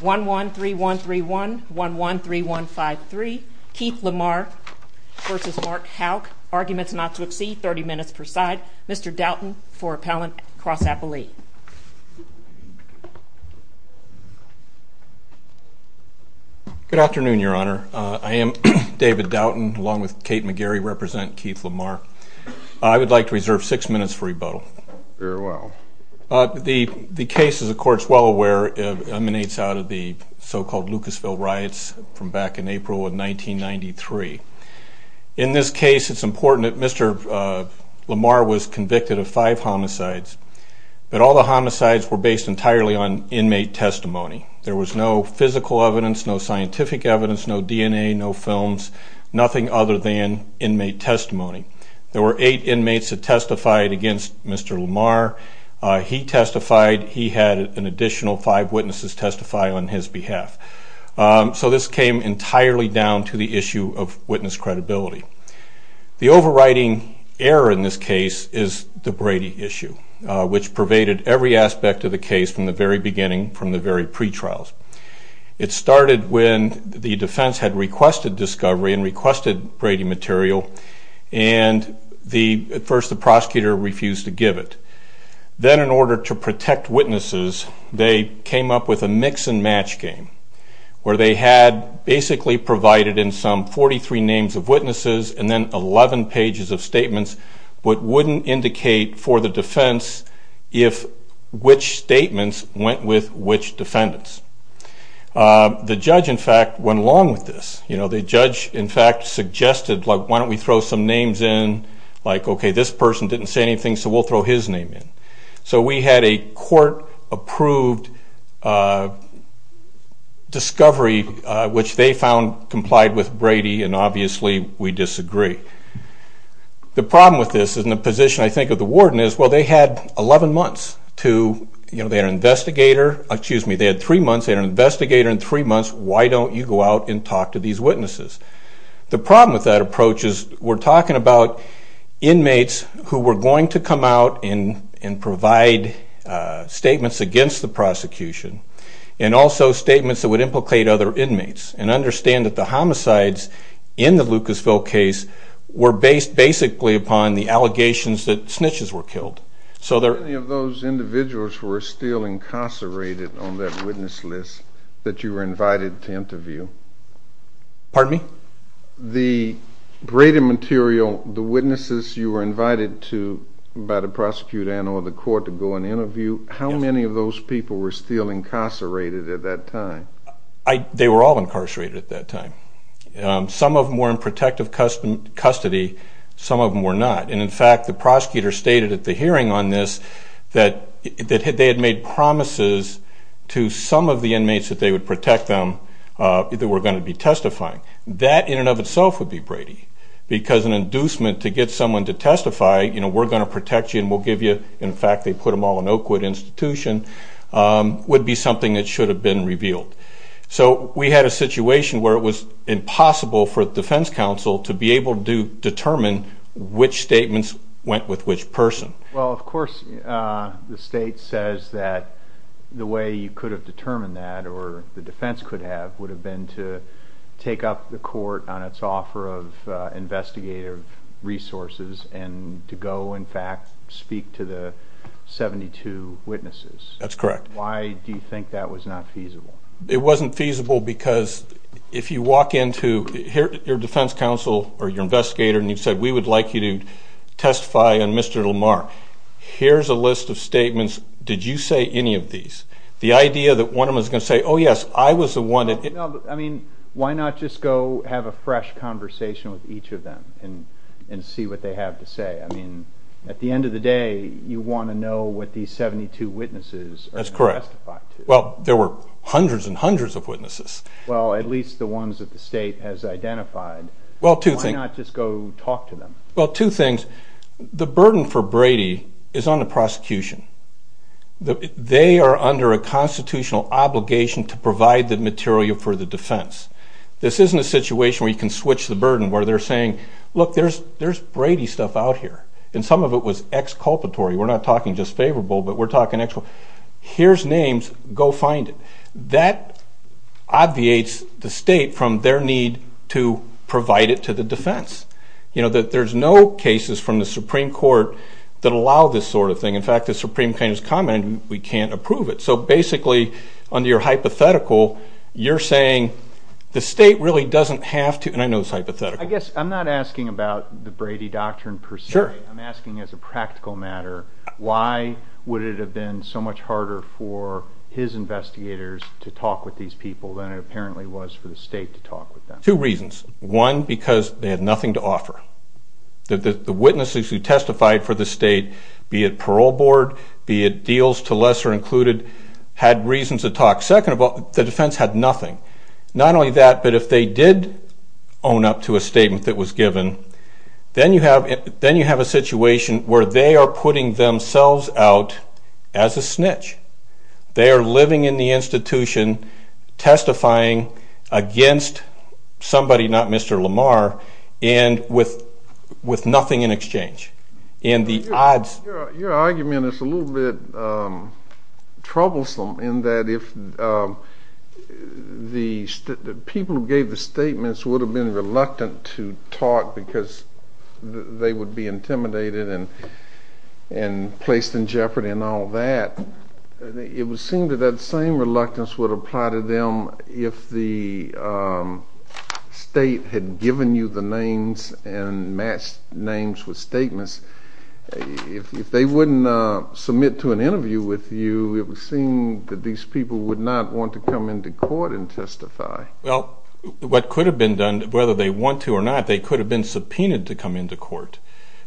113131, 113153, Keith Lamar v. Mark Houk, Arguments Not To Exceed, 30 minutes per side. Mr. Doughton for appellant, cross-appellee. Good afternoon, Your Honor. I am David Doughton, along with Kate McGarry, representing Keith Lamar. I would like to reserve six minutes for rebuttal. Very well. The case, as the Court is well aware, emanates out of the so-called Lucasville riots from back in April of 1993. In this case, it's important that Mr. Lamar was convicted of five homicides, but all the homicides were based entirely on inmate testimony. There was no physical evidence, no scientific evidence, no DNA, no films, nothing other than inmate testimony. There were eight inmates that testified against Mr. Lamar. He testified. He had an additional five witnesses testify on his behalf. So this came entirely down to the issue of witness credibility. The overriding error in this case is the Brady issue, which pervaded every aspect of the case from the very beginning, from the very pretrials. It started when the defense had requested discovery and requested Brady material, and at first the prosecutor refused to give it. Then, in order to protect witnesses, they came up with a mix-and-match game where they had basically provided in sum 43 names of witnesses and then 11 pages of statements, but wouldn't indicate for the defense which statements went with which defendants. The judge, in fact, went along with this. The judge, in fact, suggested, why don't we throw some names in? Like, okay, this person didn't say anything, so we'll throw his name in. So we had a court-approved discovery, which they found complied with Brady, and obviously we disagree. The problem with this is in the position, I think, of the warden is, well, they had 11 months to, you know, they had an investigator. Excuse me, they had three months. They had an investigator and three months. Why don't you go out and talk to these witnesses? The problem with that approach is we're talking about inmates who were going to come out and provide statements against the prosecution and also statements that would implicate other inmates and understand that the homicides in the Lucasville case were based basically upon the allegations that snitches were killed. How many of those individuals were still incarcerated on that witness list that you were invited to interview? Pardon me? The Brady material, the witnesses you were invited to, by the prosecutor and or the court to go and interview, how many of those people were still incarcerated at that time? They were all incarcerated at that time. Some of them were in protective custody, some of them were not. And in fact, the prosecutor stated at the hearing on this that they had made promises to some of the inmates that they would protect them that were going to be testifying. That in and of itself would be Brady because an inducement to get someone to testify, you know, we're going to protect you and we'll give you, in fact they put them all in Oakwood Institution, would be something that should have been revealed. So we had a situation where it was impossible for the defense counsel to be able to determine which statements went with which person. Well, of course the state says that the way you could have determined that or the defense could have would have been to take up the court on its offer of investigative resources and to go, in fact, speak to the 72 witnesses. That's correct. Why do you think that was not feasible? It wasn't feasible because if you walk into your defense counsel or your investigator and you said, we would like you to testify on Mr. Lamar, here's a list of statements. Did you say any of these? The idea that one of them is going to say, oh, yes, I was the one. I mean, why not just go have a fresh conversation with each of them and see what they have to say? I mean, at the end of the day, you want to know what these 72 witnesses are going to testify to. That's correct. Well, there were hundreds and hundreds of witnesses. Well, at least the ones that the state has identified. Why not just go talk to them? Well, two things. The burden for Brady is on the prosecution. They are under a constitutional obligation to provide the material for the defense. This isn't a situation where you can switch the burden, where they're saying, look, there's Brady stuff out here, and some of it was exculpatory. We're not talking just favorable, but we're talking actual. Here's names. Go find it. That obviates the state from their need to provide it to the defense. There's no cases from the Supreme Court that allow this sort of thing. In fact, the Supreme Court has commented we can't approve it. So basically, under your hypothetical, you're saying the state really doesn't have to. And I know it's hypothetical. I guess I'm not asking about the Brady doctrine per se. I'm asking as a practical matter, why would it have been so much harder for his investigators to talk with these people than it apparently was for the state to talk with them? Two reasons. One, because they had nothing to offer. The witnesses who testified for the state, be it parole board, be it deals to lesser included, had reasons to talk. Second, the defense had nothing. Not only that, but if they did own up to a statement that was given, then you have a situation where they are putting themselves out as a snitch. They are living in the institution, testifying against somebody, not Mr. Lamar, and with nothing in exchange. Your argument is a little bit troublesome in that if the people who gave the statements would have been reluctant to talk because they would be intimidated and placed in jeopardy and all that, it would seem that that same reluctance would apply to them if the state had given you the names and matched names with statements. If they wouldn't submit to an interview with you, it would seem that these people would not want to come into court and testify. Well, what could have been done, whether they want to or not, they could have been subpoenaed to come into court.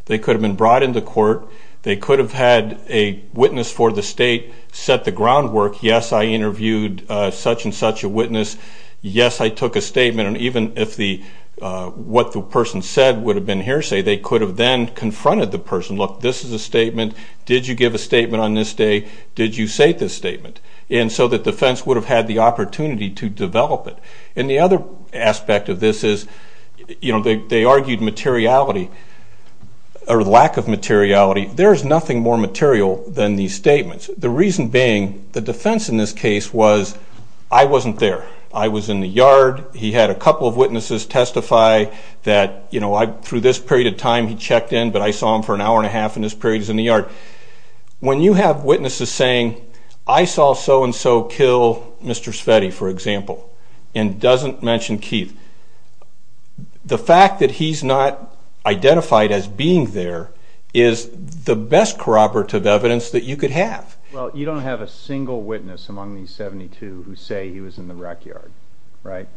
They could have been brought into court. They could have had a witness for the state set the groundwork. Yes, I interviewed such and such a witness. Yes, I took a statement. And even if what the person said would have been hearsay, they could have then confronted the person. Look, this is a statement. Did you give a statement on this day? Did you say this statement? And so the defense would have had the opportunity to develop it. And the other aspect of this is, you know, they argued materiality or lack of materiality. There is nothing more material than these statements, the reason being the defense in this case was I wasn't there. I was in the yard. He had a couple of witnesses testify that, you know, through this period of time he checked in, but I saw him for an hour and a half in this period he was in the yard. When you have witnesses saying, I saw so-and-so kill Mr. Sveti, for example, and doesn't mention Keith, the fact that he's not identified as being there is the best corroborative evidence that you could have. Well, you don't have a single witness among these 72 who say he was in the wreck yard, right?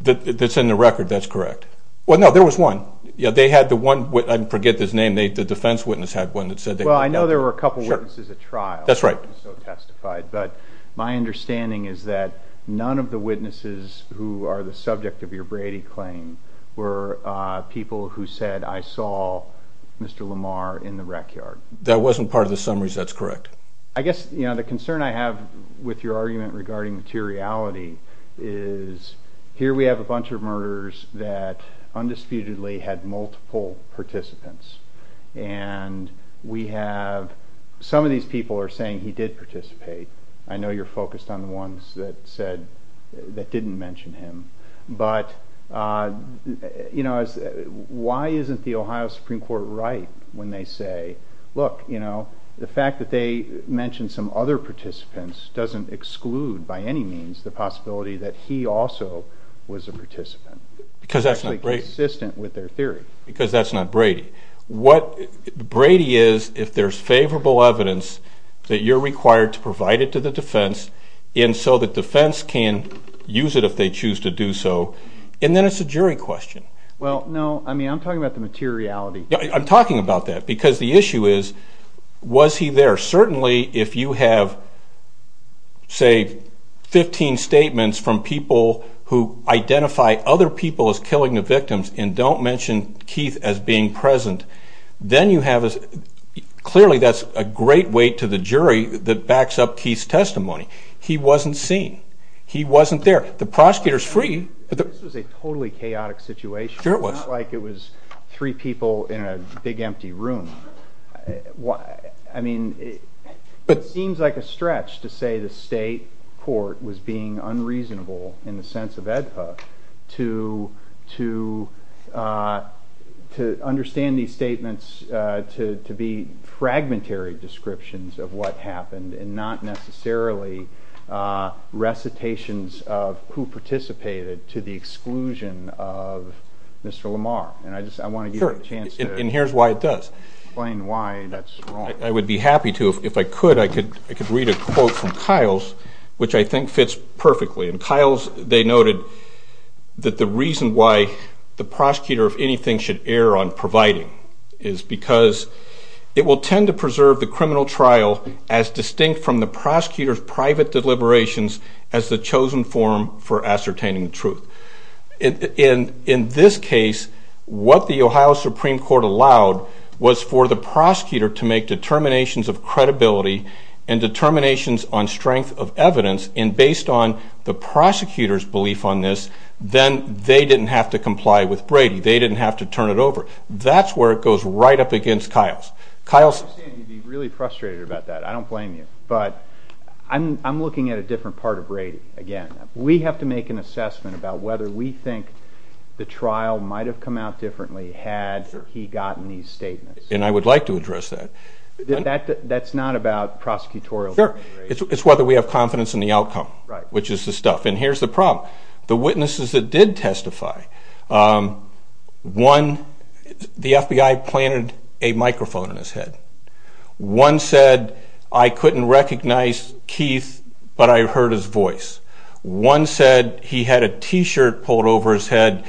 That's in the record, that's correct. Well, no, there was one. They had the one witness, I forget his name, the defense witness had one that said they looked out for him. Well, I know there were a couple witnesses at trial who testified, but my understanding is that none of the witnesses who are the subject of your Brady claim were people who said, I saw Mr. Lamar in the wreck yard. That wasn't part of the summaries, that's correct. I guess, you know, the concern I have with your argument regarding materiality is here we have a bunch of murderers that undisputedly had multiple participants. And we have, some of these people are saying he did participate. I know you're focused on the ones that said, that didn't mention him. But, you know, why isn't the Ohio Supreme Court right when they say, look, you know, the fact that they mentioned some other participants doesn't exclude by any means the possibility that he also was a participant. Because that's not Brady. Consistent with their theory. Because that's not Brady. What Brady is, if there's favorable evidence, that you're required to provide it to the defense and so the defense can use it if they choose to do so. And then it's a jury question. Well, no, I mean, I'm talking about the materiality. I'm talking about that, because the issue is, was he there? Certainly, if you have, say, 15 statements from people who identify other people as killing the victims and don't mention Keith as being present, then you have a, clearly that's a great weight to the jury that backs up Keith's testimony. He wasn't seen. He wasn't there. The prosecutor's free. This was a totally chaotic situation. Sure it was. It's not like it was three people in a big empty room. I mean, it seems like a stretch to say the state court was being unreasonable in the sense of AEDPA to understand these statements to be fragmentary descriptions of what happened and not necessarily recitations of who participated to the exclusion of Mr. Lamar. And I want to give you a chance to explain why that's wrong. I would be happy to. If I could, I could read a quote from Kyle's, which I think fits perfectly. In Kyle's, they noted that the reason why the prosecutor, if anything, should err on providing is because it will tend to preserve the criminal trial as distinct from the prosecutor's private deliberations as the chosen form for ascertaining the truth. In this case, what the Ohio Supreme Court allowed was for the prosecutor to make determinations of credibility and determinations on strength of evidence. And based on the prosecutor's belief on this, then they didn't have to comply with Brady. They didn't have to turn it over. That's where it goes right up against Kyle's. I understand you'd be really frustrated about that. I don't blame you. But I'm looking at a different part of Brady again. We have to make an assessment about whether we think the trial might have come out differently had he gotten these statements. And I would like to address that. That's not about prosecutorial deliberation. It's whether we have confidence in the outcome, which is the stuff. And here's the problem. The witnesses that did testify, one, the FBI planted a microphone in his head. One said, I couldn't recognize Keith, but I heard his voice. One said he had a T-shirt pulled over his head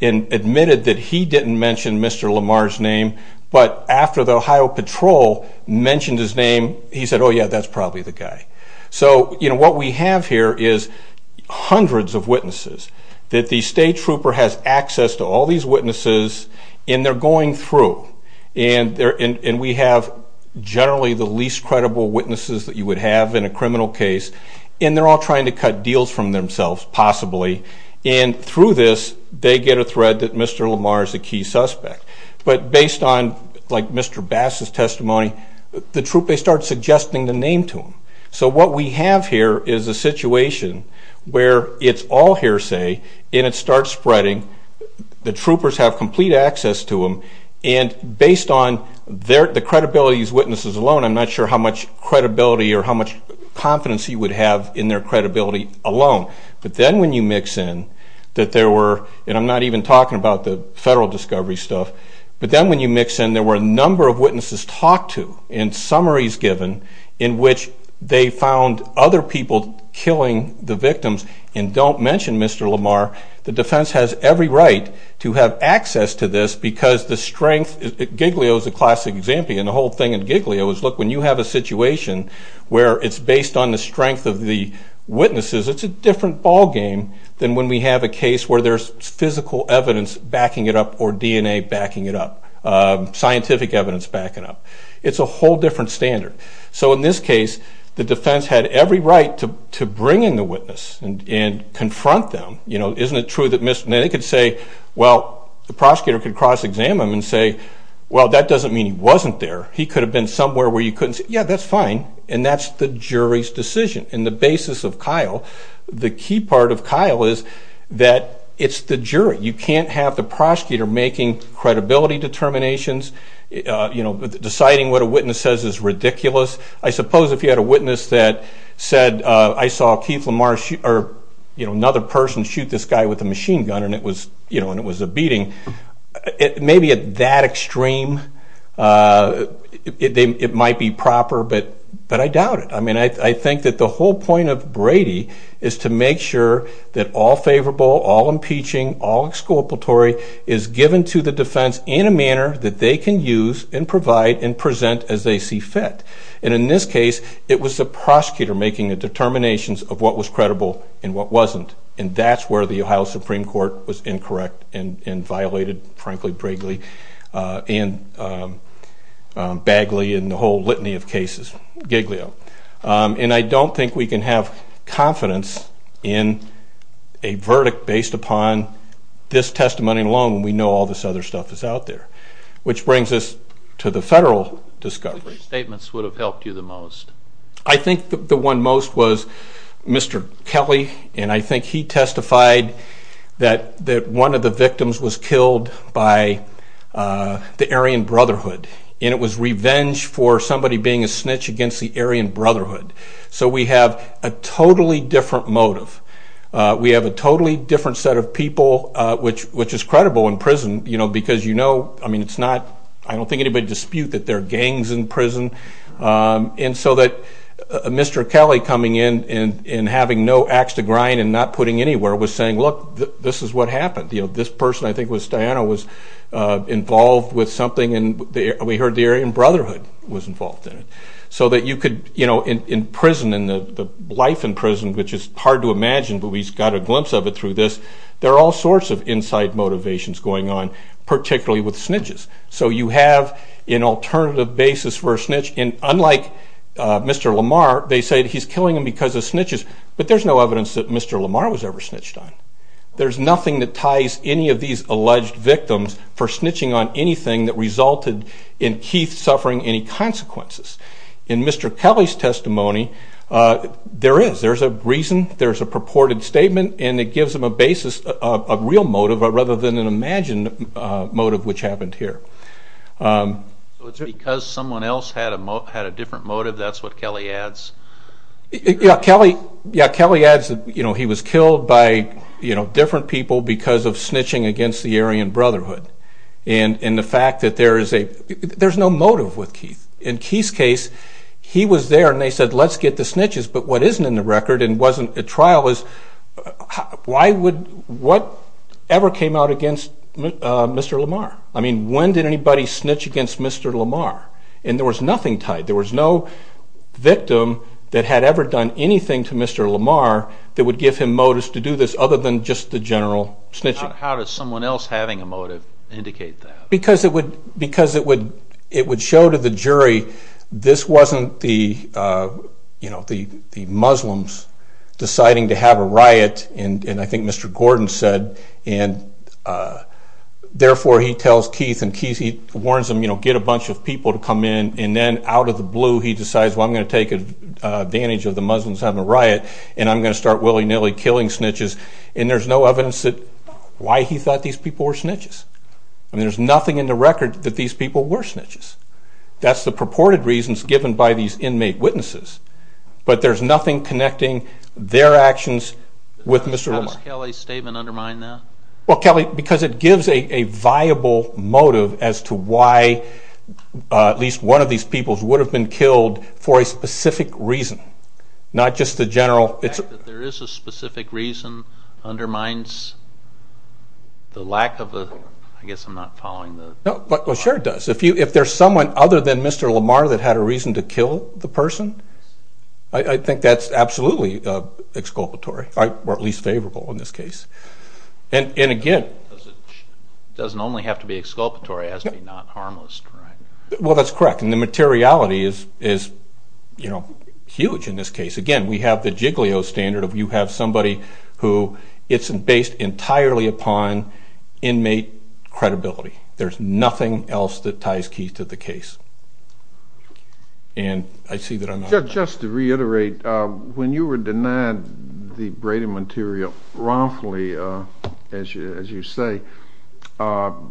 and admitted that he didn't mention Mr. Lamar's name. But after the Ohio Patrol mentioned his name, he said, oh, yeah, that's probably the guy. So what we have here is hundreds of witnesses that the state trooper has access to all these witnesses. And they're going through. And we have generally the least credible witnesses that you would have in a criminal case. And they're all trying to cut deals from themselves, possibly. And through this, they get a thread that Mr. Lamar is the key suspect. But based on, like, Mr. Bass's testimony, they start suggesting the name to him. So what we have here is a situation where it's all hearsay and it starts spreading. The troopers have complete access to him. And based on the credibility of these witnesses alone, I'm not sure how much credibility or how much confidence he would have in their credibility alone. But then when you mix in that there were, and I'm not even talking about the federal discovery stuff, but then when you mix in there were a number of witnesses talked to and summaries given in which they found other people killing the victims. And don't mention Mr. Lamar. The defense has every right to have access to this because the strength, Giglio is a classic example. And the whole thing in Giglio is, look, when you have a situation where it's based on the strength of the witnesses, it's a different ballgame than when we have a case where there's physical evidence backing it up or DNA backing it up, scientific evidence backing it up. It's a whole different standard. So in this case, the defense had every right to bring in the witness and confront them. Isn't it true that they could say, well, the prosecutor could cross-exam him and say, well, that doesn't mean he wasn't there. He could have been somewhere where you couldn't say, yeah, that's fine, and that's the jury's decision. In the basis of Kyle, the key part of Kyle is that it's the jury. You can't have the prosecutor making credibility determinations. Deciding what a witness says is ridiculous. I suppose if you had a witness that said, I saw Keith Lamar or another person shoot this guy with a machine gun, and it was a beating, maybe at that extreme, it might be proper. But I doubt it. I mean, I think that the whole point of Brady is to make sure that all favorable, all impeaching, all exculpatory is given to the defense in a manner that they can use and provide and present as they see fit. And in this case, it was the prosecutor making the determinations of what was credible and what wasn't. And that's where the Ohio Supreme Court was incorrect and violated, frankly, Brigley and Bagley and the whole litany of cases, Giglio. And I don't think we can have confidence in a verdict based upon this testimony alone when we know all this other stuff is out there. Which brings us to the federal discovery. Which statements would have helped you the most? I think the one most was Mr. Kelly. And I think he testified that one of the victims was killed by the Aryan Brotherhood. And it was revenge for somebody being a snitch against the Aryan Brotherhood. So we have a totally different motive. We have a totally different set of people, which is credible in prison. Because you know, I mean, it's not, I don't think anybody would dispute that there are gangs in prison. And so that Mr. Kelly coming in and having no axe to grind and not putting anywhere was saying, look, this is what happened. You know, this person, I think it was Diana, was involved with something. And we heard the Aryan Brotherhood was involved in it. So that you could, you know, in prison, in the life in prison, which is hard to imagine, but we got a glimpse of it through this, there are all sorts of inside motivations going on, particularly with snitches. So you have an alternative basis for a snitch. And unlike Mr. Lamar, they say he's killing him because of snitches. But there's no evidence that Mr. Lamar was ever snitched on. There's nothing that ties any of these alleged victims for snitching on anything that resulted in Keith suffering any consequences. In Mr. Kelly's testimony, there is. There's a reason, there's a purported statement, and it gives him a basis, a real motive, rather than an imagined motive, which happened here. So it's because someone else had a different motive, that's what Kelly adds? Yeah, Kelly adds that, you know, he was killed by, you know, different people because of snitching against the Aryan Brotherhood. And the fact that there is a, there's no motive with Keith. In Keith's case, he was there and they said, let's get the snitches, but what isn't in the record and wasn't at trial is, why would, what ever came out against Mr. Lamar? I mean, when did anybody snitch against Mr. Lamar? And there was nothing tied, there was no victim that had ever done anything to Mr. Lamar that would give him motives to do this, other than just the general snitching. How does someone else having a motive indicate that? Because it would show to the jury, this wasn't the, you know, the Muslims deciding to have a riot, and I think Mr. Gordon said, and therefore he tells Keith, and Keith warns him, you know, get a bunch of people to come in, and then out of the blue he decides, well I'm going to take advantage of the Muslims having a riot, and I'm going to start willy-nilly killing snitches, and there's no evidence that, why he thought these people were snitches. I mean, there's nothing in the record that these people were snitches. That's the purported reasons given by these inmate witnesses, but there's nothing connecting their actions with Mr. Lamar. How does Kelly's statement undermine that? Well, Kelly, because it gives a viable motive as to why at least one of these peoples would have been killed for a specific reason, not just the general... The fact that there is a specific reason undermines the lack of a... I guess I'm not following the... Well, sure it does. If there's someone other than Mr. Lamar that had a reason to kill the person, I think that's absolutely exculpatory, or at least favorable in this case. And again... It doesn't only have to be exculpatory, it has to be not harmless, correct? Well, that's correct, and the materiality is, you know, huge in this case. Again, we have the Giglio standard of you have somebody who... It's based entirely upon inmate credibility. There's nothing else that ties Keith to the case. And I see that I'm not... Just to reiterate, when you were denied the Brady material wrongfully, as you say, what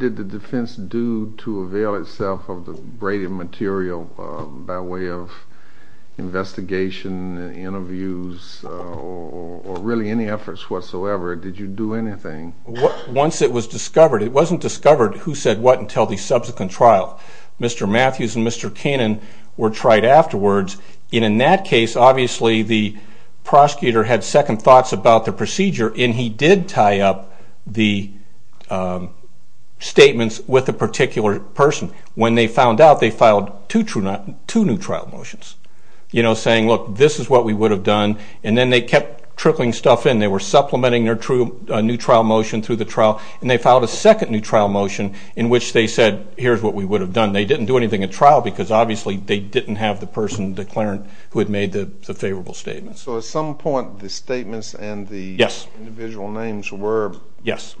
did the defense do to avail itself of the Brady material by way of investigation, interviews, or really any efforts whatsoever? Did you do anything? Once it was discovered, it wasn't discovered who said what until the subsequent trial. Mr. Matthews and Mr. Kanin were tried afterwards, and in that case, obviously, the prosecutor had second thoughts about the procedure, and he did tie up the statements with a particular person. When they found out, they filed two new trial motions, you know, saying, look, this is what we would have done, and then they kept trickling stuff in. They were supplementing their new trial motion through the trial, and they filed a second new trial motion in which they said, here's what we would have done. They didn't do anything at trial because, obviously, they didn't have the person declarant who had made the favorable statement. So at some point, the statements and the individual names were... Yes.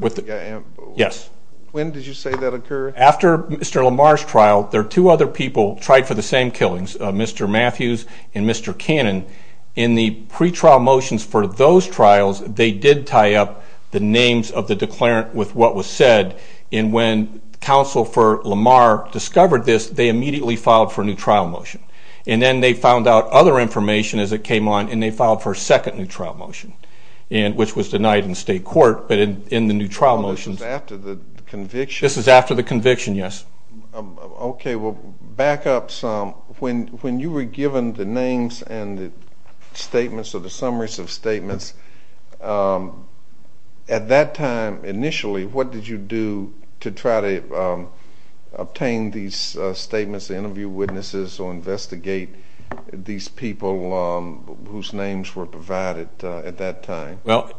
When did you say that occurred? After Mr. Lamar's trial, there are two other people tried for the same killings, Mr. Matthews and Mr. Kanin. In the pretrial motions for those trials, they did tie up the names of the declarant with what was said, and when Counsel for Lamar discovered this, they immediately filed for a new trial motion. And then they found out other information as it came on, and they filed for a second new trial motion, which was denied in state court, but in the new trial motions... Oh, this is after the conviction? This is after the conviction, yes. Okay, well, back up some. When you were given the names and the statements or the summaries of statements, at that time, initially, what did you do to try to obtain these statements, interview witnesses, or investigate these people whose names were provided at that time? Well,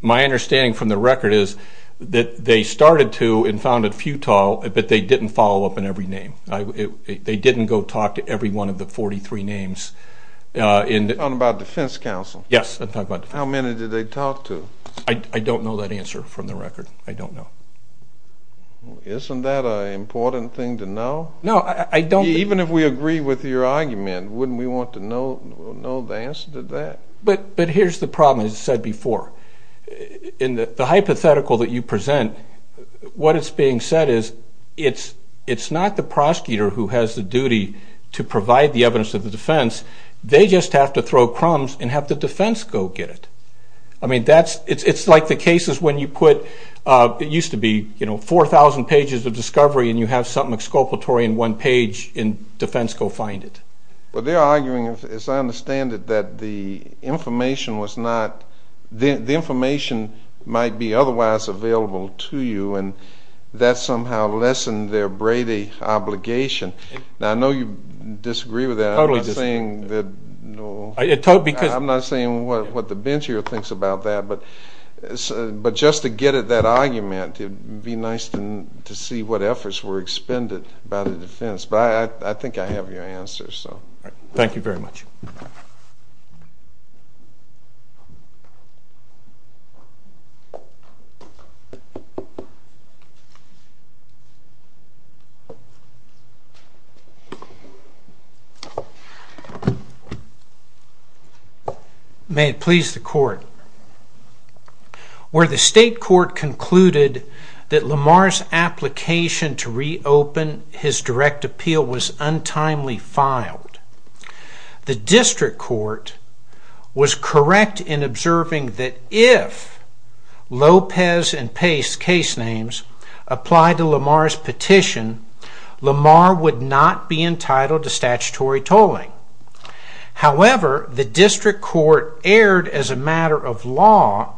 my understanding from the record is that they started to and found it futile, but they didn't follow up on every name. They didn't go talk to every one of the 43 names. You're talking about defense counsel? Yes, I'm talking about defense counsel. How many did they talk to? I don't know that answer from the record. I don't know. Isn't that an important thing to know? No, I don't... Even if we agree with your argument, wouldn't we want to know the answer to that? But here's the problem, as I said before. In the hypothetical that you present, what is being said is it's not the prosecutor who has the duty to provide the evidence of the defense. They just have to throw crumbs and have the defense go get it. I mean, it's like the cases when you put... It used to be 4,000 pages of discovery and you have something exculpatory in one page and defense go find it. But they're arguing, as I understand it, that the information was not... The information might be otherwise available to you and that somehow lessened their Brady obligation. Now, I know you disagree with that. I'm not saying that... I'm not saying what the bench here thinks about that, but just to get at that argument, it would be nice to see what efforts were expended by the defense. But I think I have your answer, so... Thank you very much. May it please the court. Where the state court concluded that Lamar's application to reopen his direct appeal was untimely filed, the district court was correct in observing that if Lopez and Pace's case names applied to Lamar's petition, Lamar would not be entitled to statutory tolling. However, the district court erred as a matter of law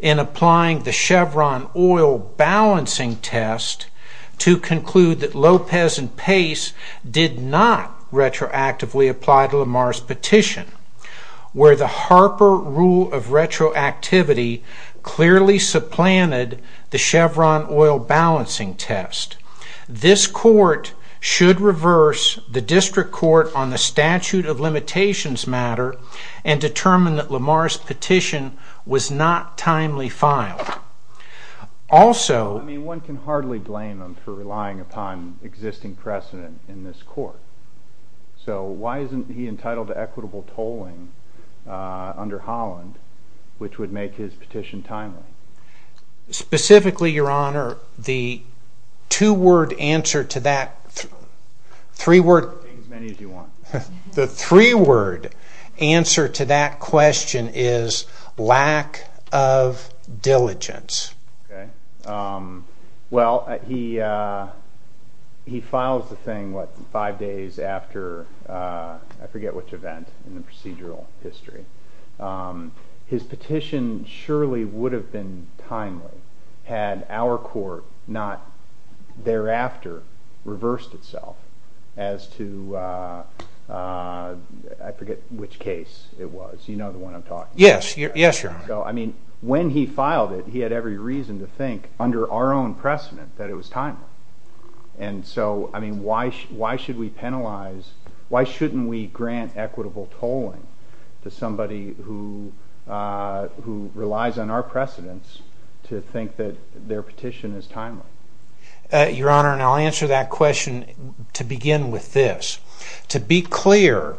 in applying the Chevron oil balancing test to conclude that Lopez and Pace did not retroactively apply to Lamar's petition, where the Harper rule of retroactivity clearly supplanted the Chevron oil balancing test. This court should reverse the district court on the statute of limitations matter and determine that Lamar's petition was not timely filed. Also... I mean, one can hardly blame him for relying upon existing precedent in this court. So why isn't he entitled to equitable tolling under Holland, which would make his petition timely? Specifically, Your Honor, the two-word answer to that... Take as many as you want. The three-word answer to that question is lack of diligence. Okay. Well, he files the thing, what, five days after... I forget which event in the procedural history. His petition surely would have been timely had our court not thereafter reversed itself as to... I forget which case it was. You know the one I'm talking about. Yes, Your Honor. So, I mean, when he filed it, he had every reason to think, under our own precedent, that it was timely. And so, I mean, why should we penalize... Why shouldn't we grant equitable tolling to somebody who relies on our precedents to think that their petition is timely? Your Honor, and I'll answer that question to begin with this. To be clear,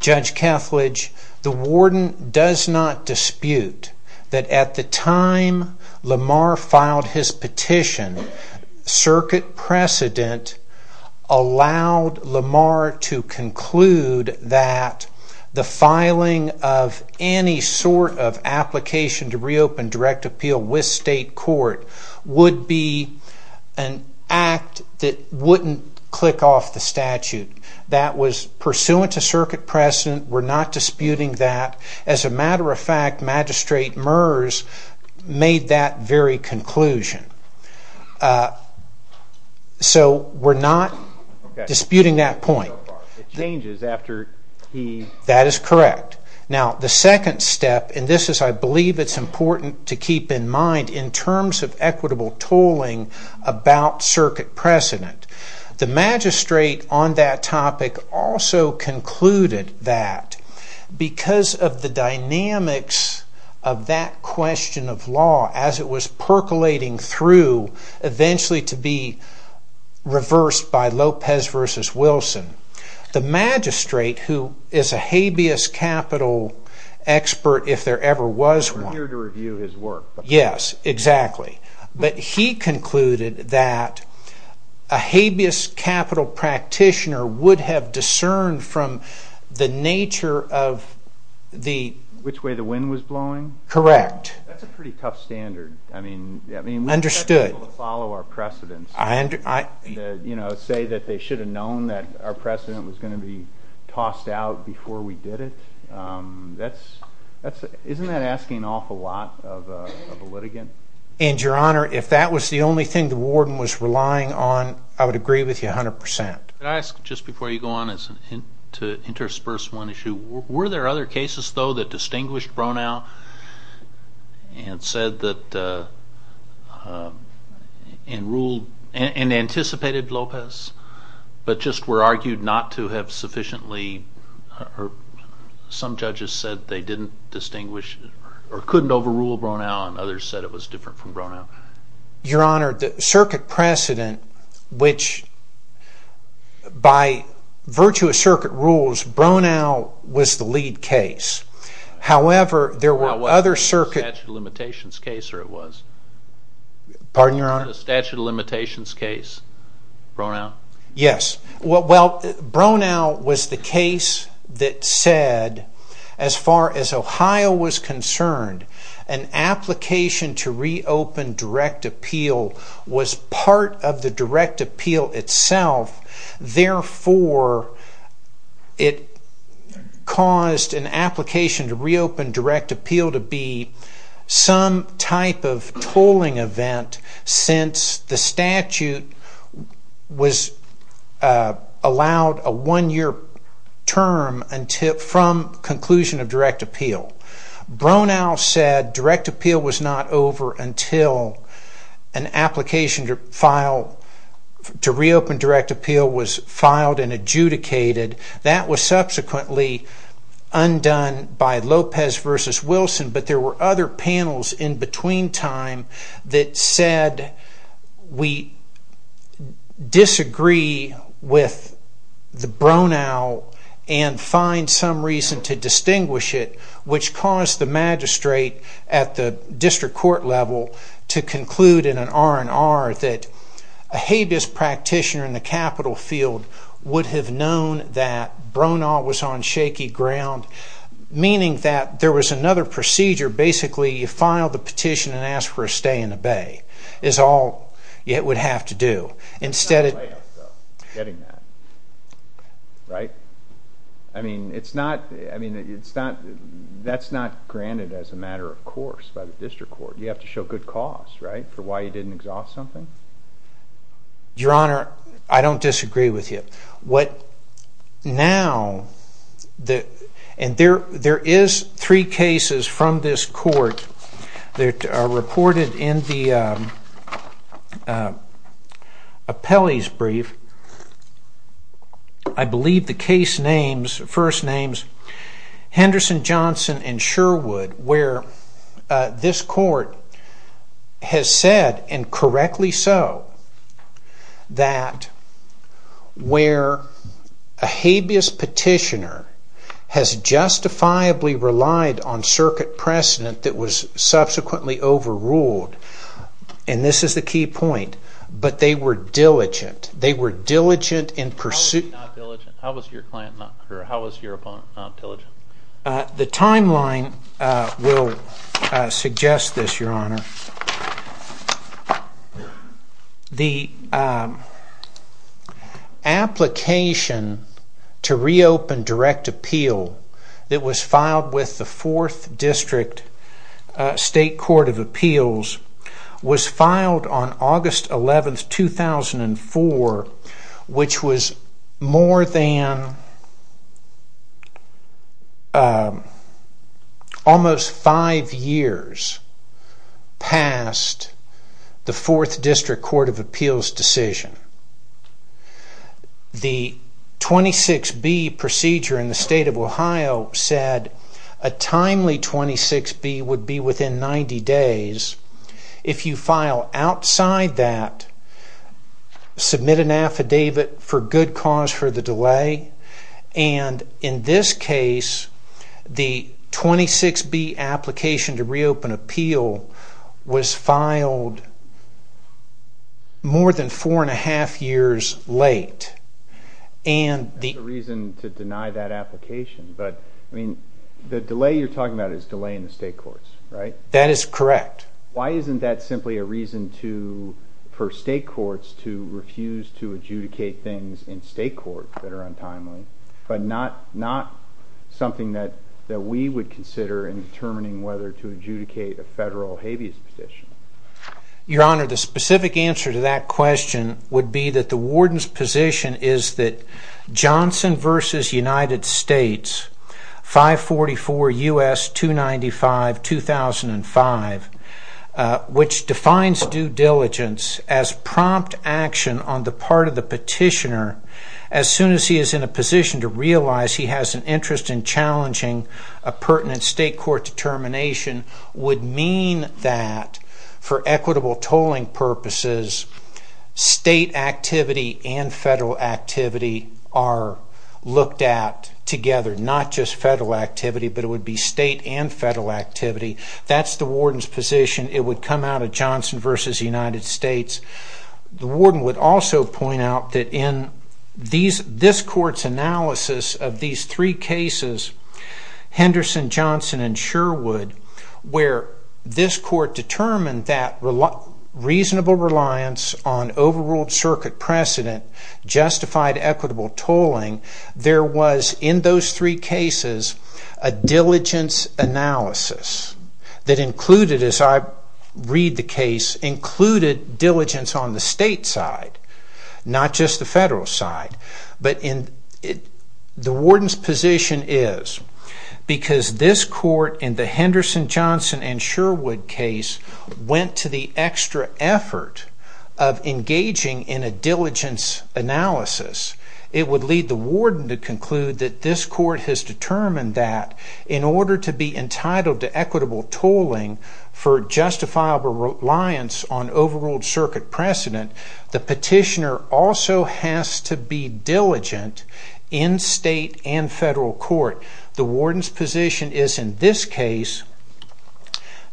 Judge Kethledge, the warden does not dispute that at the time Lamar filed his petition, circuit precedent allowed Lamar to conclude that the filing of any sort of application to reopen direct appeal with state court would be an act that wouldn't click off the statute. That was pursuant to circuit precedent. We're not disputing that. As a matter of fact, Magistrate Murs made that very conclusion. So, we're not disputing that point. It changes after he... That is correct. Now, the second step, and this is, I believe, it's important to keep in mind in terms of equitable tolling about circuit precedent, the magistrate on that topic also concluded that because of the dynamics of that question of law as it was percolating through eventually to be reversed by Lopez v. Wilson, the magistrate, who is a habeas capital expert if there ever was one... We're here to review his work. Yes, exactly. But he concluded that a habeas capital practitioner would have discerned from the nature of the... Which way the wind was blowing? Correct. That's a pretty tough standard. I mean, we've got to be able to follow our precedents. You know, say that they should have known that our precedent was going to be tossed out before we did it. Isn't that asking an awful lot of a litigant? And, Your Honor, if that was the only thing the warden was relying on, I would agree with you 100%. Can I ask, just before you go on to intersperse one issue, were there other cases, though, that distinguished Bronau and said that... and ruled... and anticipated Lopez, but just were argued not to have sufficiently or some judges said they didn't distinguish or couldn't overrule Bronau and others said it was different from Bronau? Your Honor, the circuit precedent, which by virtuous circuit rules, Bronau was the lead case. However, there were other circuit... Was it a statute of limitations case or it was? Pardon, Your Honor? Was it a statute of limitations case, Bronau? Yes. Well, Bronau was the case that said, as far as Ohio was concerned, an application to reopen direct appeal was part of the direct appeal itself. Therefore, it caused an application to reopen direct appeal to be some type of tolling event since the statute was allowed a one-year term from conclusion of direct appeal. Bronau said direct appeal was not over until an application to reopen direct appeal was filed and adjudicated. That was subsequently undone by Lopez v. Wilson, but there were other panels in between time that said we disagree with the Bronau and find some reason to distinguish it, which caused the magistrate at the district court level to conclude in an R&R that a habeas practitioner in the capital field would have known that Bronau was on shaky ground, meaning that there was another procedure. Basically, you file the petition and ask for a stay in the bay is all it would have to do. It's not a layoff though, getting that, right? I mean, that's not granted as a matter of course by the district court. You have to show good cause, right, for why you didn't exhaust something? Your Honor, I don't disagree with you. Now, there is three cases from this court that are reported in the appellee's brief. I believe the case names, first names, Henderson, Johnson, and Sherwood, where this court has said, and correctly so, that where a habeas petitioner has justifiably relied on circuit precedent that was subsequently overruled, and this is the key point, but they were diligent. They were diligent in pursuit... How was he not diligent? How was your opponent not diligent? The timeline will suggest this, Your Honor. The application to reopen direct appeal that was filed with the 4th District State Court of Appeals was filed on August 11, 2004, which was more than almost five years past the 4th District Court of Appeals' decision. The 26B procedure in the state of Ohio said a timely 26B would be within 90 days. If you file outside that, submit an affidavit for good cause for the delay, and in this case, the 26B application to reopen appeal was filed more than four and a half years late. There's a reason to deny that application, but the delay you're talking about is delay in the state courts, right? That is correct. Why isn't that simply a reason for state courts to refuse to adjudicate things in state court that are untimely, but not something that we would consider in determining whether to adjudicate a federal habeas petition? Your Honor, the specific answer to that question would be that the warden's position is that Johnson v. United States, 544 U.S. 295-2005, which defines due diligence as prompt action on the part of the petitioner as soon as he is in a position to realize he has an interest in challenging a pertinent state court determination would mean that for equitable tolling purposes, state activity and federal activity are looked at together, not just federal activity, but it would be state and federal activity. That's the warden's position. It would come out of Johnson v. United States. The warden would also point out that in this court's analysis of these three cases, Henderson, Johnson, and Sherwood, where this court determined that reasonable reliance on overruled circuit precedent justified equitable tolling, there was in those three cases a diligence analysis that included, as I read the case, included diligence on the state side, not just the federal side. But the warden's position is because this court in the Henderson, Johnson, and Sherwood case went to the extra effort of engaging in a diligence analysis, it would lead the warden to conclude that this court has determined that in order to be entitled to equitable tolling for justifiable reliance on overruled circuit precedent, the petitioner also has to be diligent in state and federal court. The warden's position is in this case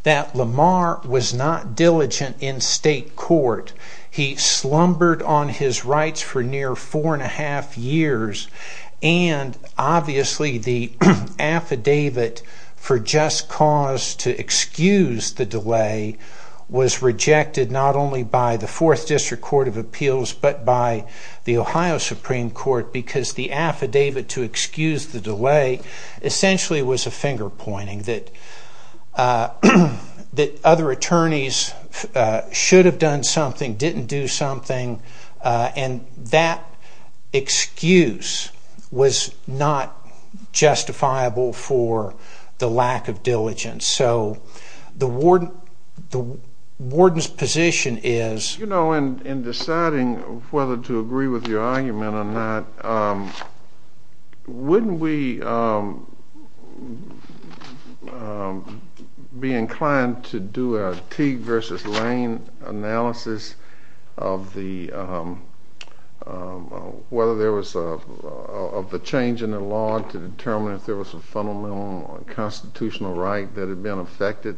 that Lamar was not diligent in state court. He slumbered on his rights for near four and a half years, and obviously the affidavit for just cause to excuse the delay was rejected not only by the Fourth District Court of Appeals but by the Ohio Supreme Court because the affidavit to excuse the delay essentially was a finger pointing that other attorneys should have done something, didn't do something, and that excuse was not justifiable for the lack of diligence. So the warden's position is... You know, in deciding whether to agree with your argument or not, wouldn't we be inclined to do a Teague versus Lane analysis of the change in the law to determine if there was a fundamental constitutional right that had been affected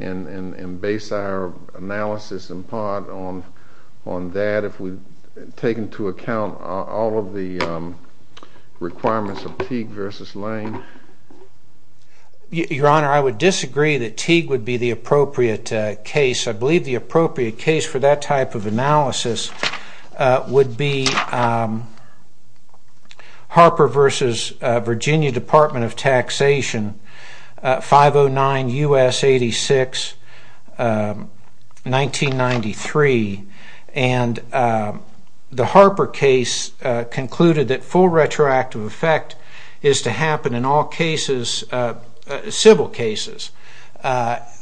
and base our analysis in part on that if we take into account all of the requirements of Teague versus Lane? Your Honor, I would disagree that Teague would be the appropriate case. I believe the appropriate case for that type of analysis would be Harper v. Virginia Department of Taxation, 509 U.S. 86, 1993. And the Harper case concluded that full retroactive effect is to happen in all cases, civil cases,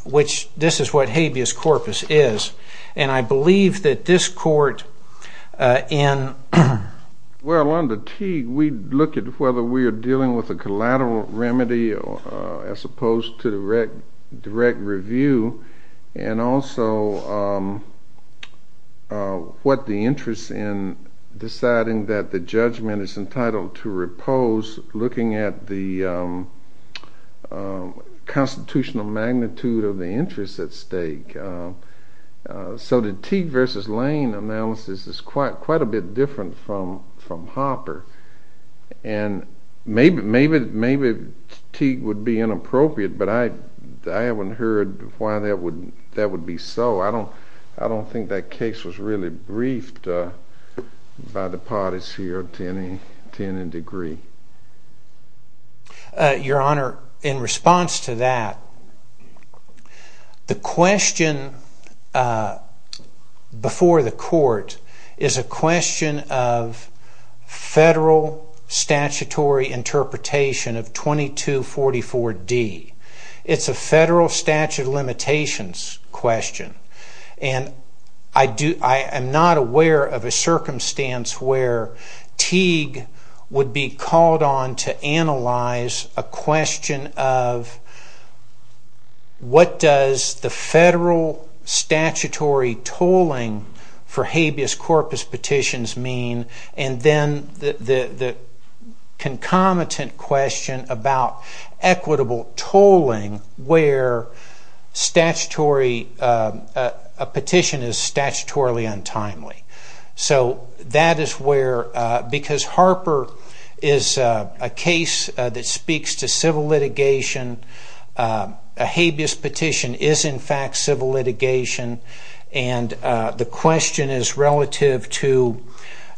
which this is what habeas corpus is. And I believe that this court in... would look at whether we are dealing with a collateral remedy as opposed to direct review and also what the interest in deciding that the judgment is entitled to repose looking at the constitutional magnitude of the interest at stake. So the Teague versus Lane analysis is quite a bit different from Harper. And maybe Teague would be inappropriate, but I haven't heard why that would be so. I don't think that case was really briefed by the parties here to any degree. Your Honor, in response to that, the question before the court is a question of federal statutory interpretation of 2244D. It's a federal statute of limitations question. And I am not aware of a circumstance where Teague would be called on to analyze a question of what does the federal statutory tolling for habeas corpus petitions mean and then the concomitant question about equitable tolling where a petition is statutorily untimely. So that is where... Harper is a case that speaks to civil litigation. A habeas petition is in fact civil litigation. And the question is relative to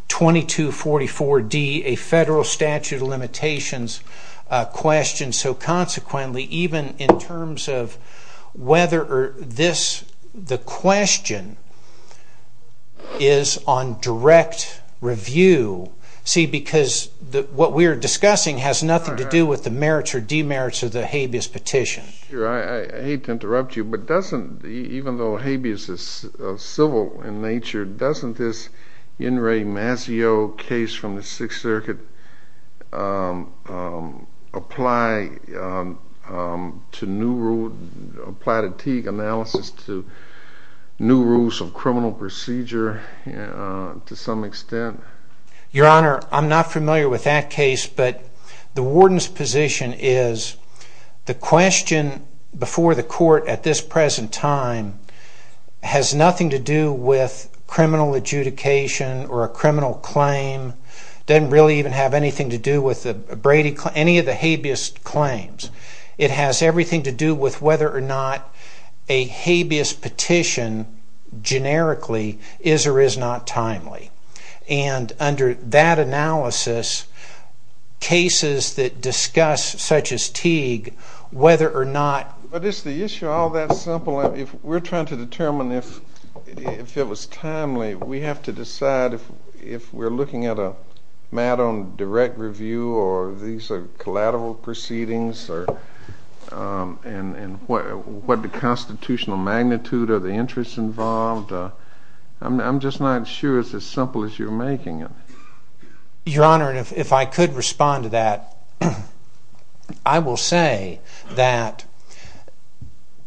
2244D, a federal statute of limitations question. So consequently, even in terms of whether the question is on direct review... What we are discussing has nothing to do with the merits or demerits of the habeas petition. I hate to interrupt you, but even though habeas is civil in nature, doesn't this In re Masio case from the Sixth Circuit apply to Teague analysis to new rules of criminal procedure to some extent? Your Honor, I am not familiar with that case, but the warden's position is the question before the court at this present time has nothing to do with criminal adjudication or a criminal claim. It doesn't really even have anything to do with any of the habeas claims. It has everything to do with whether or not a habeas petition generically is or is not timely. And under that analysis, cases that discuss such as Teague, whether or not... But is the issue all that simple? If we're trying to determine if it was timely, we have to decide if we're looking at a matter on direct review or these are collateral proceedings and what the constitutional magnitude of the interest involved. I'm just not sure it's as simple as you're making it. Your Honor, if I could respond to that, I will say that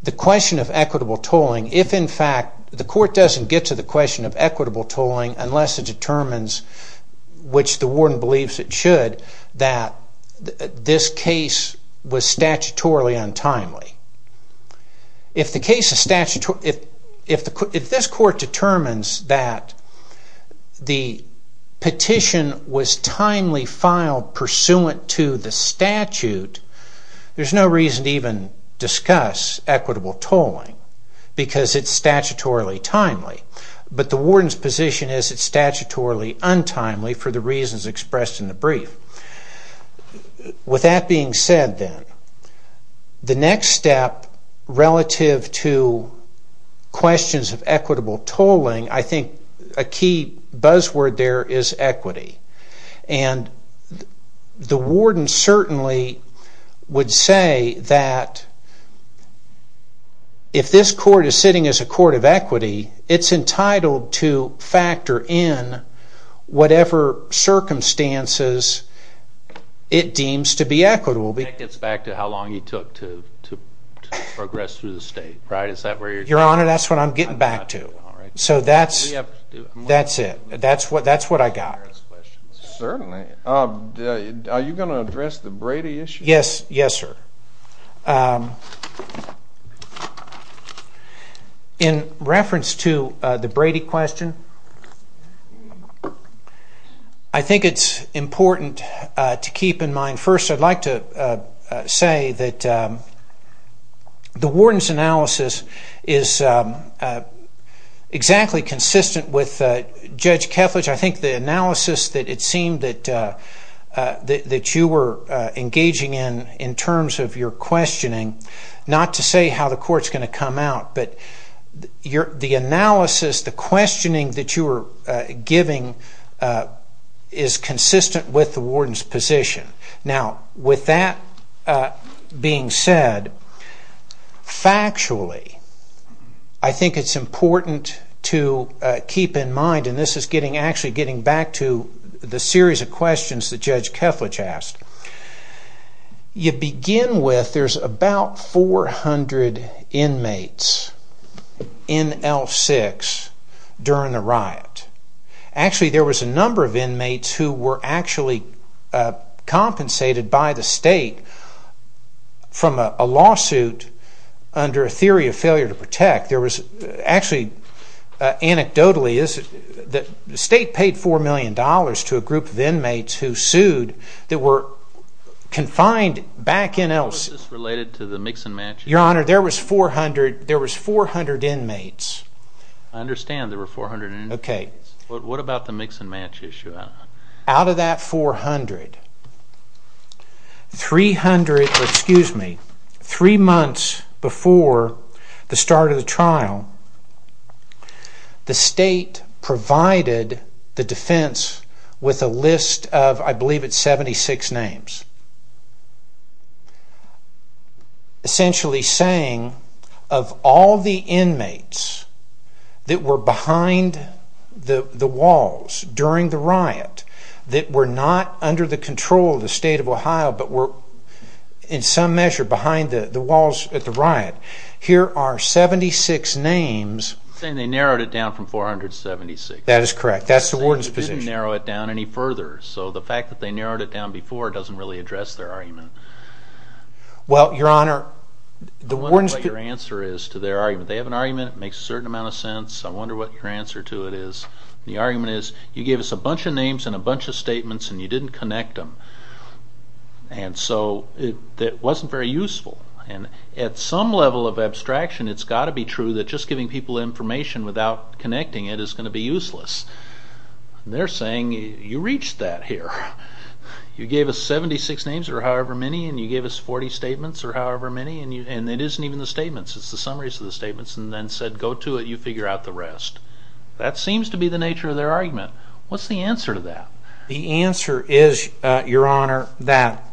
the question of equitable tolling, if in fact the court doesn't get to the question of equitable tolling unless it determines, which the warden believes it should, that this case was statutorily untimely. If this court determines that the petition was timely filed pursuant to the statute, there's no reason to even discuss equitable tolling because it's statutorily timely. But the warden's position is it's statutorily untimely for the reasons expressed in the brief. With that being said then, the next step relative to questions of equitable tolling, I think a key buzzword there is equity. And the warden certainly would say that if this court is sitting as a court of equity, it's entitled to factor in whatever circumstances it deems to be equitable. That gets back to how long it took to progress through the state. Your Honor, that's what I'm getting back to. So that's it. That's what I got. Certainly. Are you going to address the Brady issue? Yes, sir. In reference to the Brady question, I think it's important to keep in mind, first I'd like to say that the warden's analysis is exactly consistent with Judge Kethledge. I think the analysis that it seemed that you were engaging in in terms of your questioning, not to say how the court's going to come out, but the analysis, the questioning that you were giving is consistent with the warden's position. Now, with that being said, factually, I think it's important to keep in mind, and this is actually getting back to the series of questions that Judge Kethledge asked. You begin with there's about 400 inmates in L6 during the riot. Actually, there was a number of inmates who were actually compensated by the state from a lawsuit under a theory of failure to protect. Actually, anecdotally, the state paid $4 million to a group of inmates who sued that were confined back in L6. Was this related to the mix and match? Your Honor, there was 400 inmates. I understand there were 400 inmates. What about the mix and match issue? Out of that 400, three months before the start of the trial, the state provided the defense with a list of, I believe it's 76 names, essentially saying of all the inmates that were behind the walls during the riot that were not under the control of the state of Ohio but were in some measure behind the walls at the riot, here are 76 names. You're saying they narrowed it down from 476. That is correct. That's the warden's position. They didn't narrow it down any further, so the fact that they narrowed it down before doesn't really address their argument. Well, Your Honor, the warden's... I wonder what your answer is to their argument. They have an argument. It makes a certain amount of sense. I wonder what your answer to it is. The argument is, you gave us a bunch of names and a bunch of statements, and you didn't connect them. And so it wasn't very useful. And at some level of abstraction, it's got to be true that just giving people information without connecting it is going to be useless. They're saying, you reached that here. You gave us 76 names, or however many, and you gave us 40 statements, or however many, and it isn't even the statements. It's the summaries of the statements, and then said, go to it, you figure out the rest. That seems to be the nature of their argument. What's the answer to that? The answer is, Your Honor, that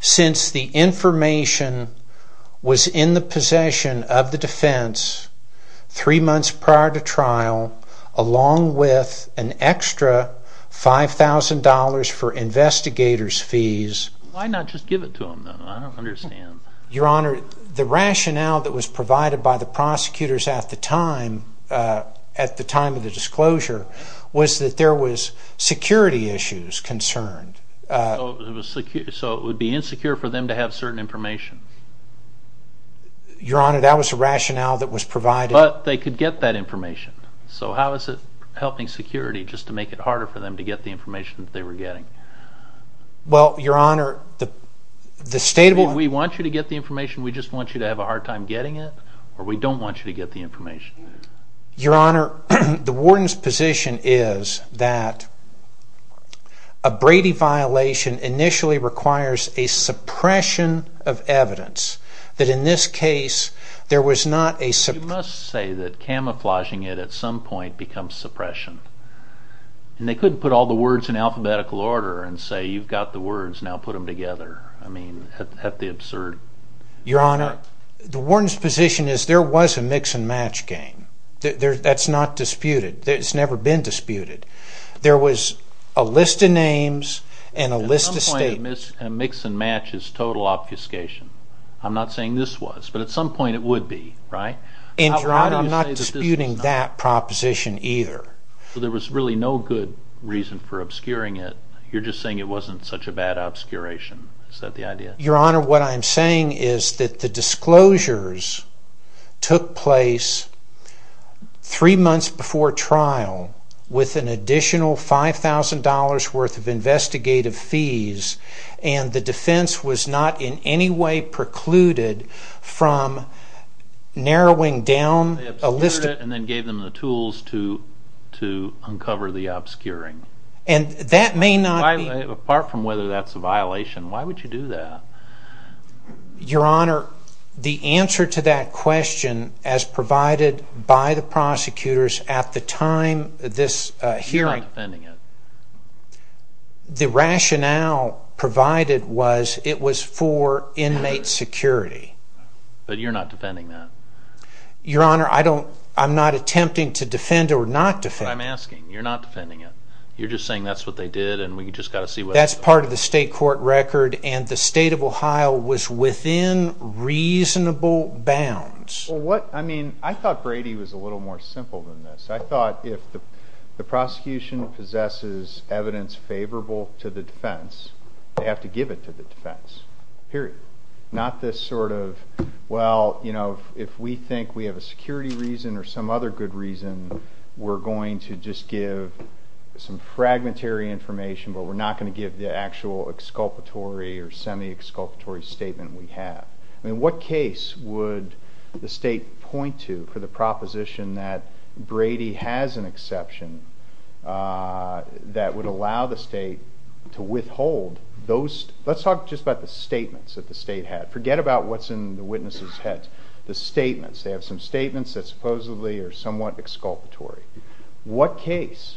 since the information was in the possession of the defense three months prior to trial, along with an extra $5,000 for investigators' fees... Why not just give it to them, then? I don't understand. Your Honor, the rationale that was provided by the prosecutors at the time of the disclosure was that there was security issues concerned. So it would be insecure for them to have certain information? Your Honor, that was the rationale that was provided. But they could get that information. So how is it helping security, just to make it harder for them to get the information that they were getting? Well, Your Honor... If we want you to get the information, we just want you to have a hard time getting it, or we don't want you to get the information. Your Honor, the warden's position is that a Brady violation initially requires a suppression of evidence. That in this case, there was not a... But you must say that camouflaging it at some point becomes suppression. And they couldn't put all the words in alphabetical order and say, you've got the words, now put them together. I mean, that'd be absurd. Your Honor, the warden's position is there was a mix-and-match game. That's not disputed. It's never been disputed. There was a list of names and a list of statements. A mix-and-match is total obfuscation. I'm not saying this was, but at some point it would be, right? And, Your Honor, I'm not disputing that proposition either. So there was really no good reason for obscuring it. You're just saying it wasn't such a bad obscuration. Is that the idea? Your Honor, what I'm saying is that the disclosures took place 3 months before trial with an additional $5,000 worth of investigative fees, and the defense was not in any way precluded from narrowing down a list... They obscured it and then gave them the tools to uncover the obscuring. And that may not be... Apart from whether that's a violation, why would you do that? Your Honor, the answer to that question, as provided by the prosecutors at the time of this hearing... You're not defending it. The rationale provided was it was for inmate security. But you're not defending that. Your Honor, I'm not attempting to defend or not defend. That's what I'm asking. You're not defending it. You're just saying that's what they did and we just got to see what... That's part of the state court record, and the state of Ohio was within reasonable bounds. I thought Brady was a little more simple than this. I thought if the prosecution possesses evidence favorable to the defense, they have to give it to the defense, period. Not this sort of, well, if we think we have a security reason or some other good reason, we're going to just give some fragmentary information, but we're not going to give the actual exculpatory or semi-exculpatory statement we have. I mean, what case would the state point to for the proposition that Brady has an exception that would allow the state to withhold those... Let's talk just about the statements that the state had. Forget about what's in the witnesses' heads. The statements, they have some statements that supposedly are somewhat exculpatory. What case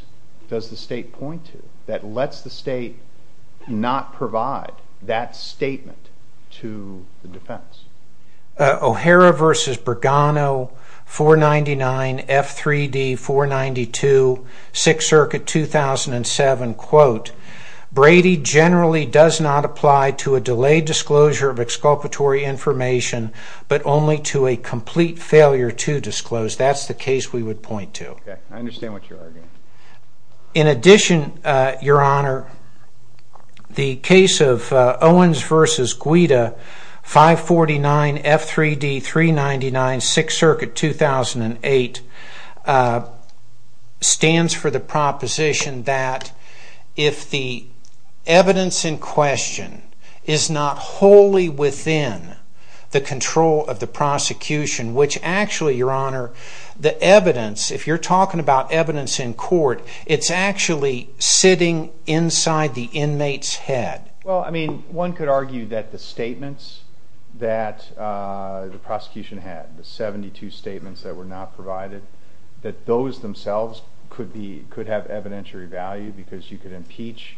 does the state point to that lets the state not provide that statement to the defense? O'Hara v. Bergano, 499, F3D, 492, 6th Circuit, 2007, quote, Brady generally does not apply to a delayed disclosure of exculpatory information, but only to a complete failure to disclose. That's the case we would point to. I understand what you're arguing. In addition, Your Honor, the case of Owens v. Guida, 549, F3D, 399, 6th Circuit, 2008, stands for the proposition that if the evidence in question is not wholly within the control of the prosecution, which actually, Your Honor, the evidence, if you're talking about evidence in court, it's actually sitting inside the inmate's head. Well, I mean, one could argue that the statements that the prosecution had, the 72 statements that were not provided, that those themselves could have evidentiary value because you could impeach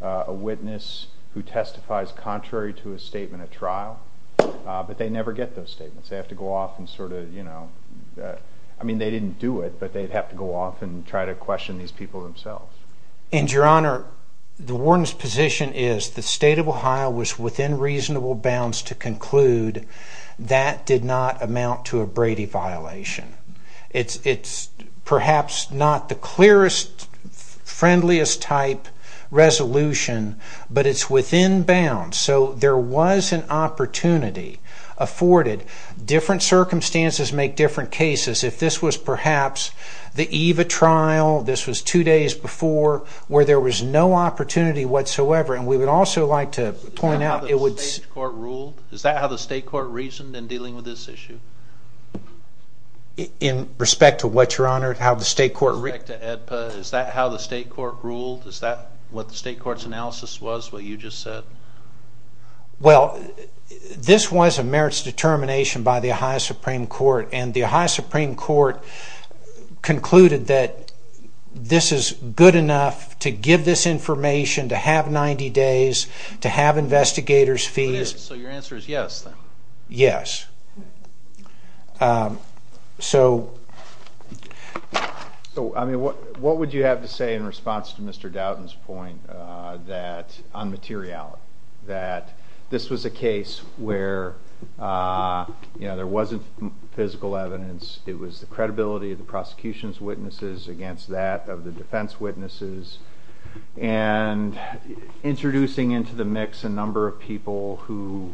a witness who testifies contrary to a statement at trial, but they never get those statements. They have to go off and sort of, you know... I mean, they didn't do it, but they'd have to go off and try to question these people themselves. And, Your Honor, the warden's position is the state of Ohio was within reasonable bounds to conclude that did not amount to a Brady violation. It's perhaps not the clearest, friendliest-type resolution, but it's within bounds. So there was an opportunity afforded. Different circumstances make different cases. If this was perhaps the EVA trial, this was two days before, where there was no opportunity whatsoever, and we would also like to point out... Is that how the state court ruled? Is that how the state court reasoned in dealing with this issue? In respect to what, Your Honor? In respect to AEDPA, is that how the state court ruled? Is that what the state court's analysis was, what you just said? Well, this was a merits determination by the Ohio Supreme Court, and the Ohio Supreme Court concluded that this is good enough to give this information, to have 90 days, to have investigators' fees. So your answer is yes, then? Yes. Um, so... So, I mean, what would you have to say in response to Mr. Doughton's point on materiality, that this was a case where, you know, there wasn't physical evidence, it was the credibility of the prosecution's witnesses against that of the defense witnesses, and introducing into the mix a number of people who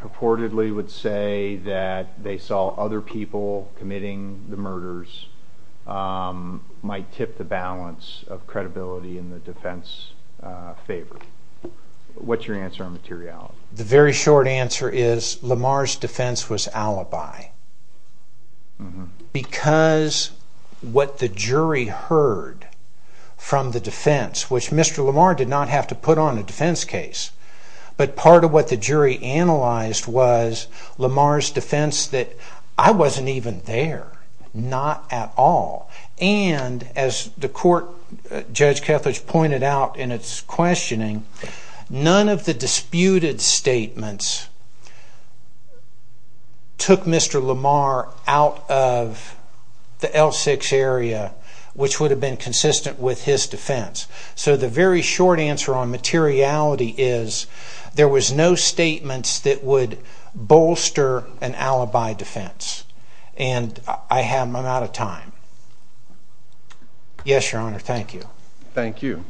purportedly would say that they saw other people committing the murders might tip the balance of credibility in the defense's favor? What's your answer on materiality? The very short answer is, Lamar's defense was alibi. Mm-hmm. Because what the jury heard from the defense, which Mr. Lamar did not have to put on a defense case, but part of what the jury analyzed was Lamar's defense that, I wasn't even there. Not at all. And, as the court, Judge Kethledge, pointed out in its questioning, none of the disputed statements took Mr. Lamar out of the L6 area, which would have been consistent with his defense. So the very short answer on materiality is, there was no statements that would And I'm out of time. Yes, Your Honor, thank you. Thank you.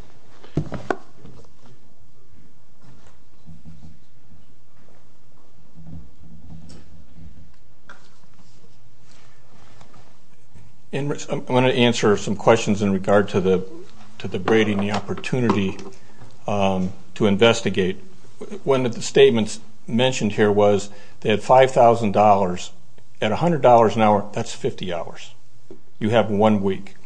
I'm going to answer some questions in regard to the Brady and the opportunity to investigate. One of the statements mentioned here was they had $5,000. At $100 an hour, that's 50 hours. You have one week.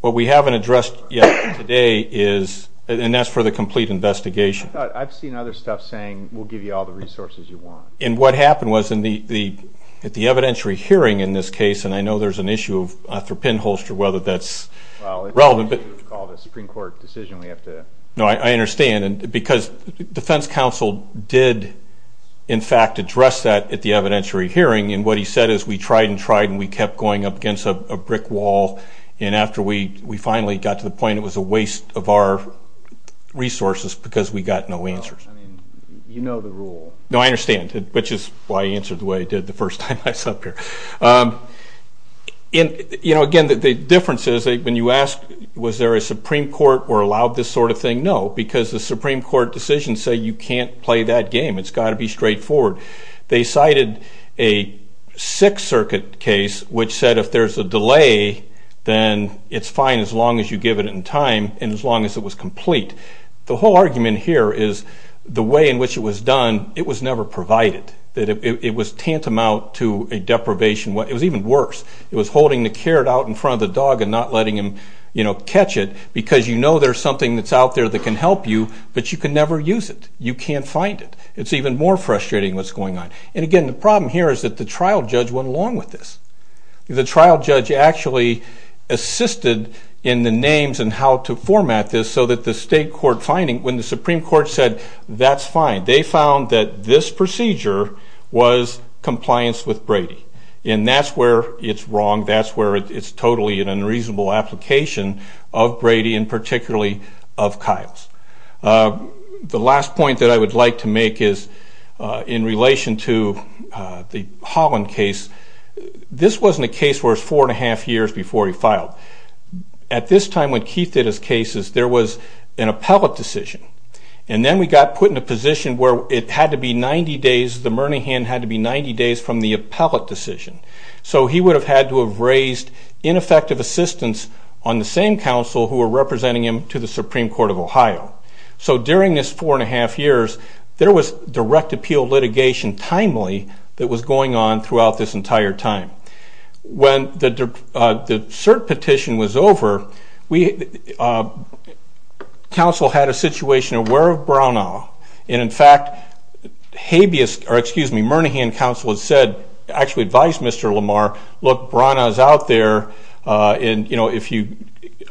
What we haven't addressed yet today is, and that's for the complete investigation. I've seen other stuff saying, we'll give you all the resources you want. And what happened was, at the evidentiary hearing in this case, and I know there's an issue of pinholster, whether that's relevant. Well, it's what you would call the Supreme Court decision. We have to... No, I understand. Because defense counsel did, in fact, address that at the evidentiary hearing. And what he said is, we tried and tried, and we kept going up against a brick wall. And after we finally got to the point, it was a waste of our resources because we got no answers. You know the rule. No, I understand. Which is why I answered the way I did the first time I was up here. Again, the difference is, when you ask, was there a Supreme Court or allowed this sort of thing? No, because the Supreme Court decisions say you can't play that game. It's got to be straightforward. They cited a Sixth Circuit case, which said if there's a delay, then it's fine as long as you give it in time and as long as it was complete. The whole argument here is, the way in which it was done, it was never provided. It was tantamount to a deprivation. It was even worse. It was holding the carrot out in front of the dog and not letting him catch it because you know there's something that's out there that can help you, but you can never use it. You can't find it. It's even more frustrating what's going on. And again, the problem here is that the trial judge went along with this. The trial judge actually assisted in the names and how to format this so that the state court finding, when the Supreme Court said, that's fine, they found that this procedure was compliance with Brady. And that's where it's wrong. That's where it's totally an unreasonable application of Brady and particularly of Kiles. The last point that I would like to make is in relation to the Holland case. This wasn't a case where it was four and a half years before he filed. At this time when Keith did his cases, there was an appellate decision. And then we got put in a position where it had to be 90 days, the Murnihan had to be 90 days from the appellate decision. So he would have had to have raised ineffective assistance on the same counsel who were representing him to the Supreme Court of Ohio. So during this four and a half years, there was direct appeal litigation, timely, that was going on throughout this entire time. When the cert petition was over, counsel had a situation aware of Branaugh. And in fact, Murnihan counsel had said, actually advised Mr. Lamar, look, Branaugh's out there. There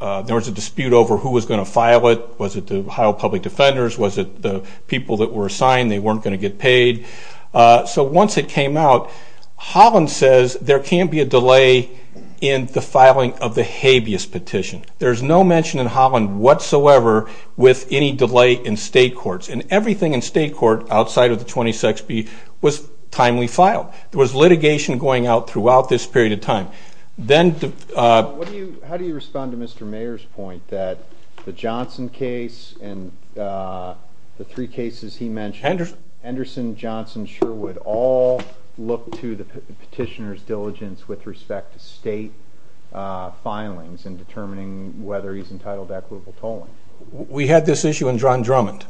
was a dispute over who was going to file it. Was it the Ohio Public Defenders? Was it the people that were assigned? They weren't going to get paid. So once it came out, Holland says there can't be a delay in the filing of the habeas petition. There's no mention in Holland whatsoever with any delay in state courts. And everything in state court outside of the 26B was timely filed. There was litigation going out throughout this period of time. How do you respond to Mr. Mayer's point that the Johnson case and the three cases he mentioned, Henderson, Johnson, Sherwood, all look to the petitioner's diligence with respect to state filings in determining whether he's entitled to equitable tolling? We had this issue in John Drummond.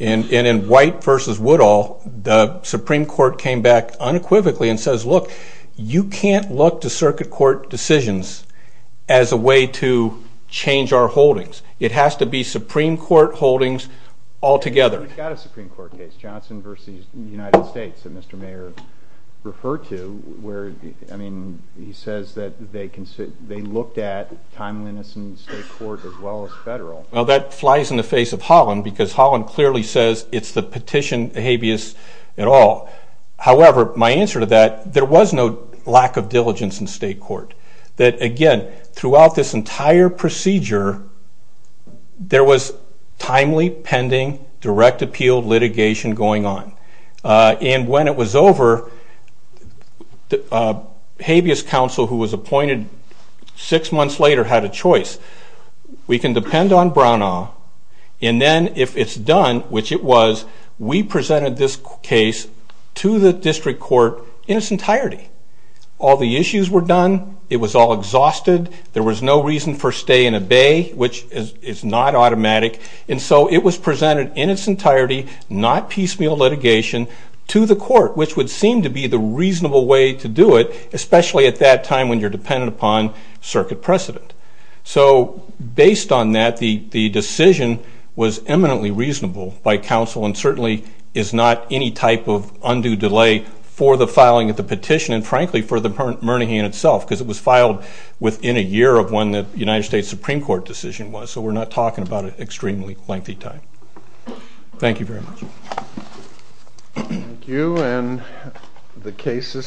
And in White v. Woodall, the Supreme Court came back unequivocally and says, look, you can't look to circuit court decisions as a way to change our holdings. It has to be Supreme Court holdings altogether. You've got a Supreme Court case, Johnson v. United States, that Mr. Mayer referred to where he says that they looked at timeliness in state court as well as federal. Well, that flies in the face of Holland because Holland clearly says it's the petition habeas et al. However, my answer to that, there was no lack of diligence in state court. That, again, throughout this entire procedure, there was timely, pending, direct appeal litigation going on. And when it was over, habeas counsel who was appointed six months later had a choice. We can depend on Branaugh, and then if it's done, which it was, we presented this case to the district court in its entirety. All the issues were done. It was all exhausted. There was no reason for stay and obey, which is not automatic. And so it was presented in its entirety, not piecemeal litigation, to the court, which would seem to be the reasonable way to do it, especially at that time when you're dependent upon circuit precedent. So based on that, the decision was eminently reasonable by counsel and certainly is not any type of undue delay for the filing of the petition and, frankly, for the Murnihan itself, because it was filed within a year of when the United States Supreme Court decision was. So we're not talking about an extremely lengthy time. Thank you very much. Thank you. And the case is submitted.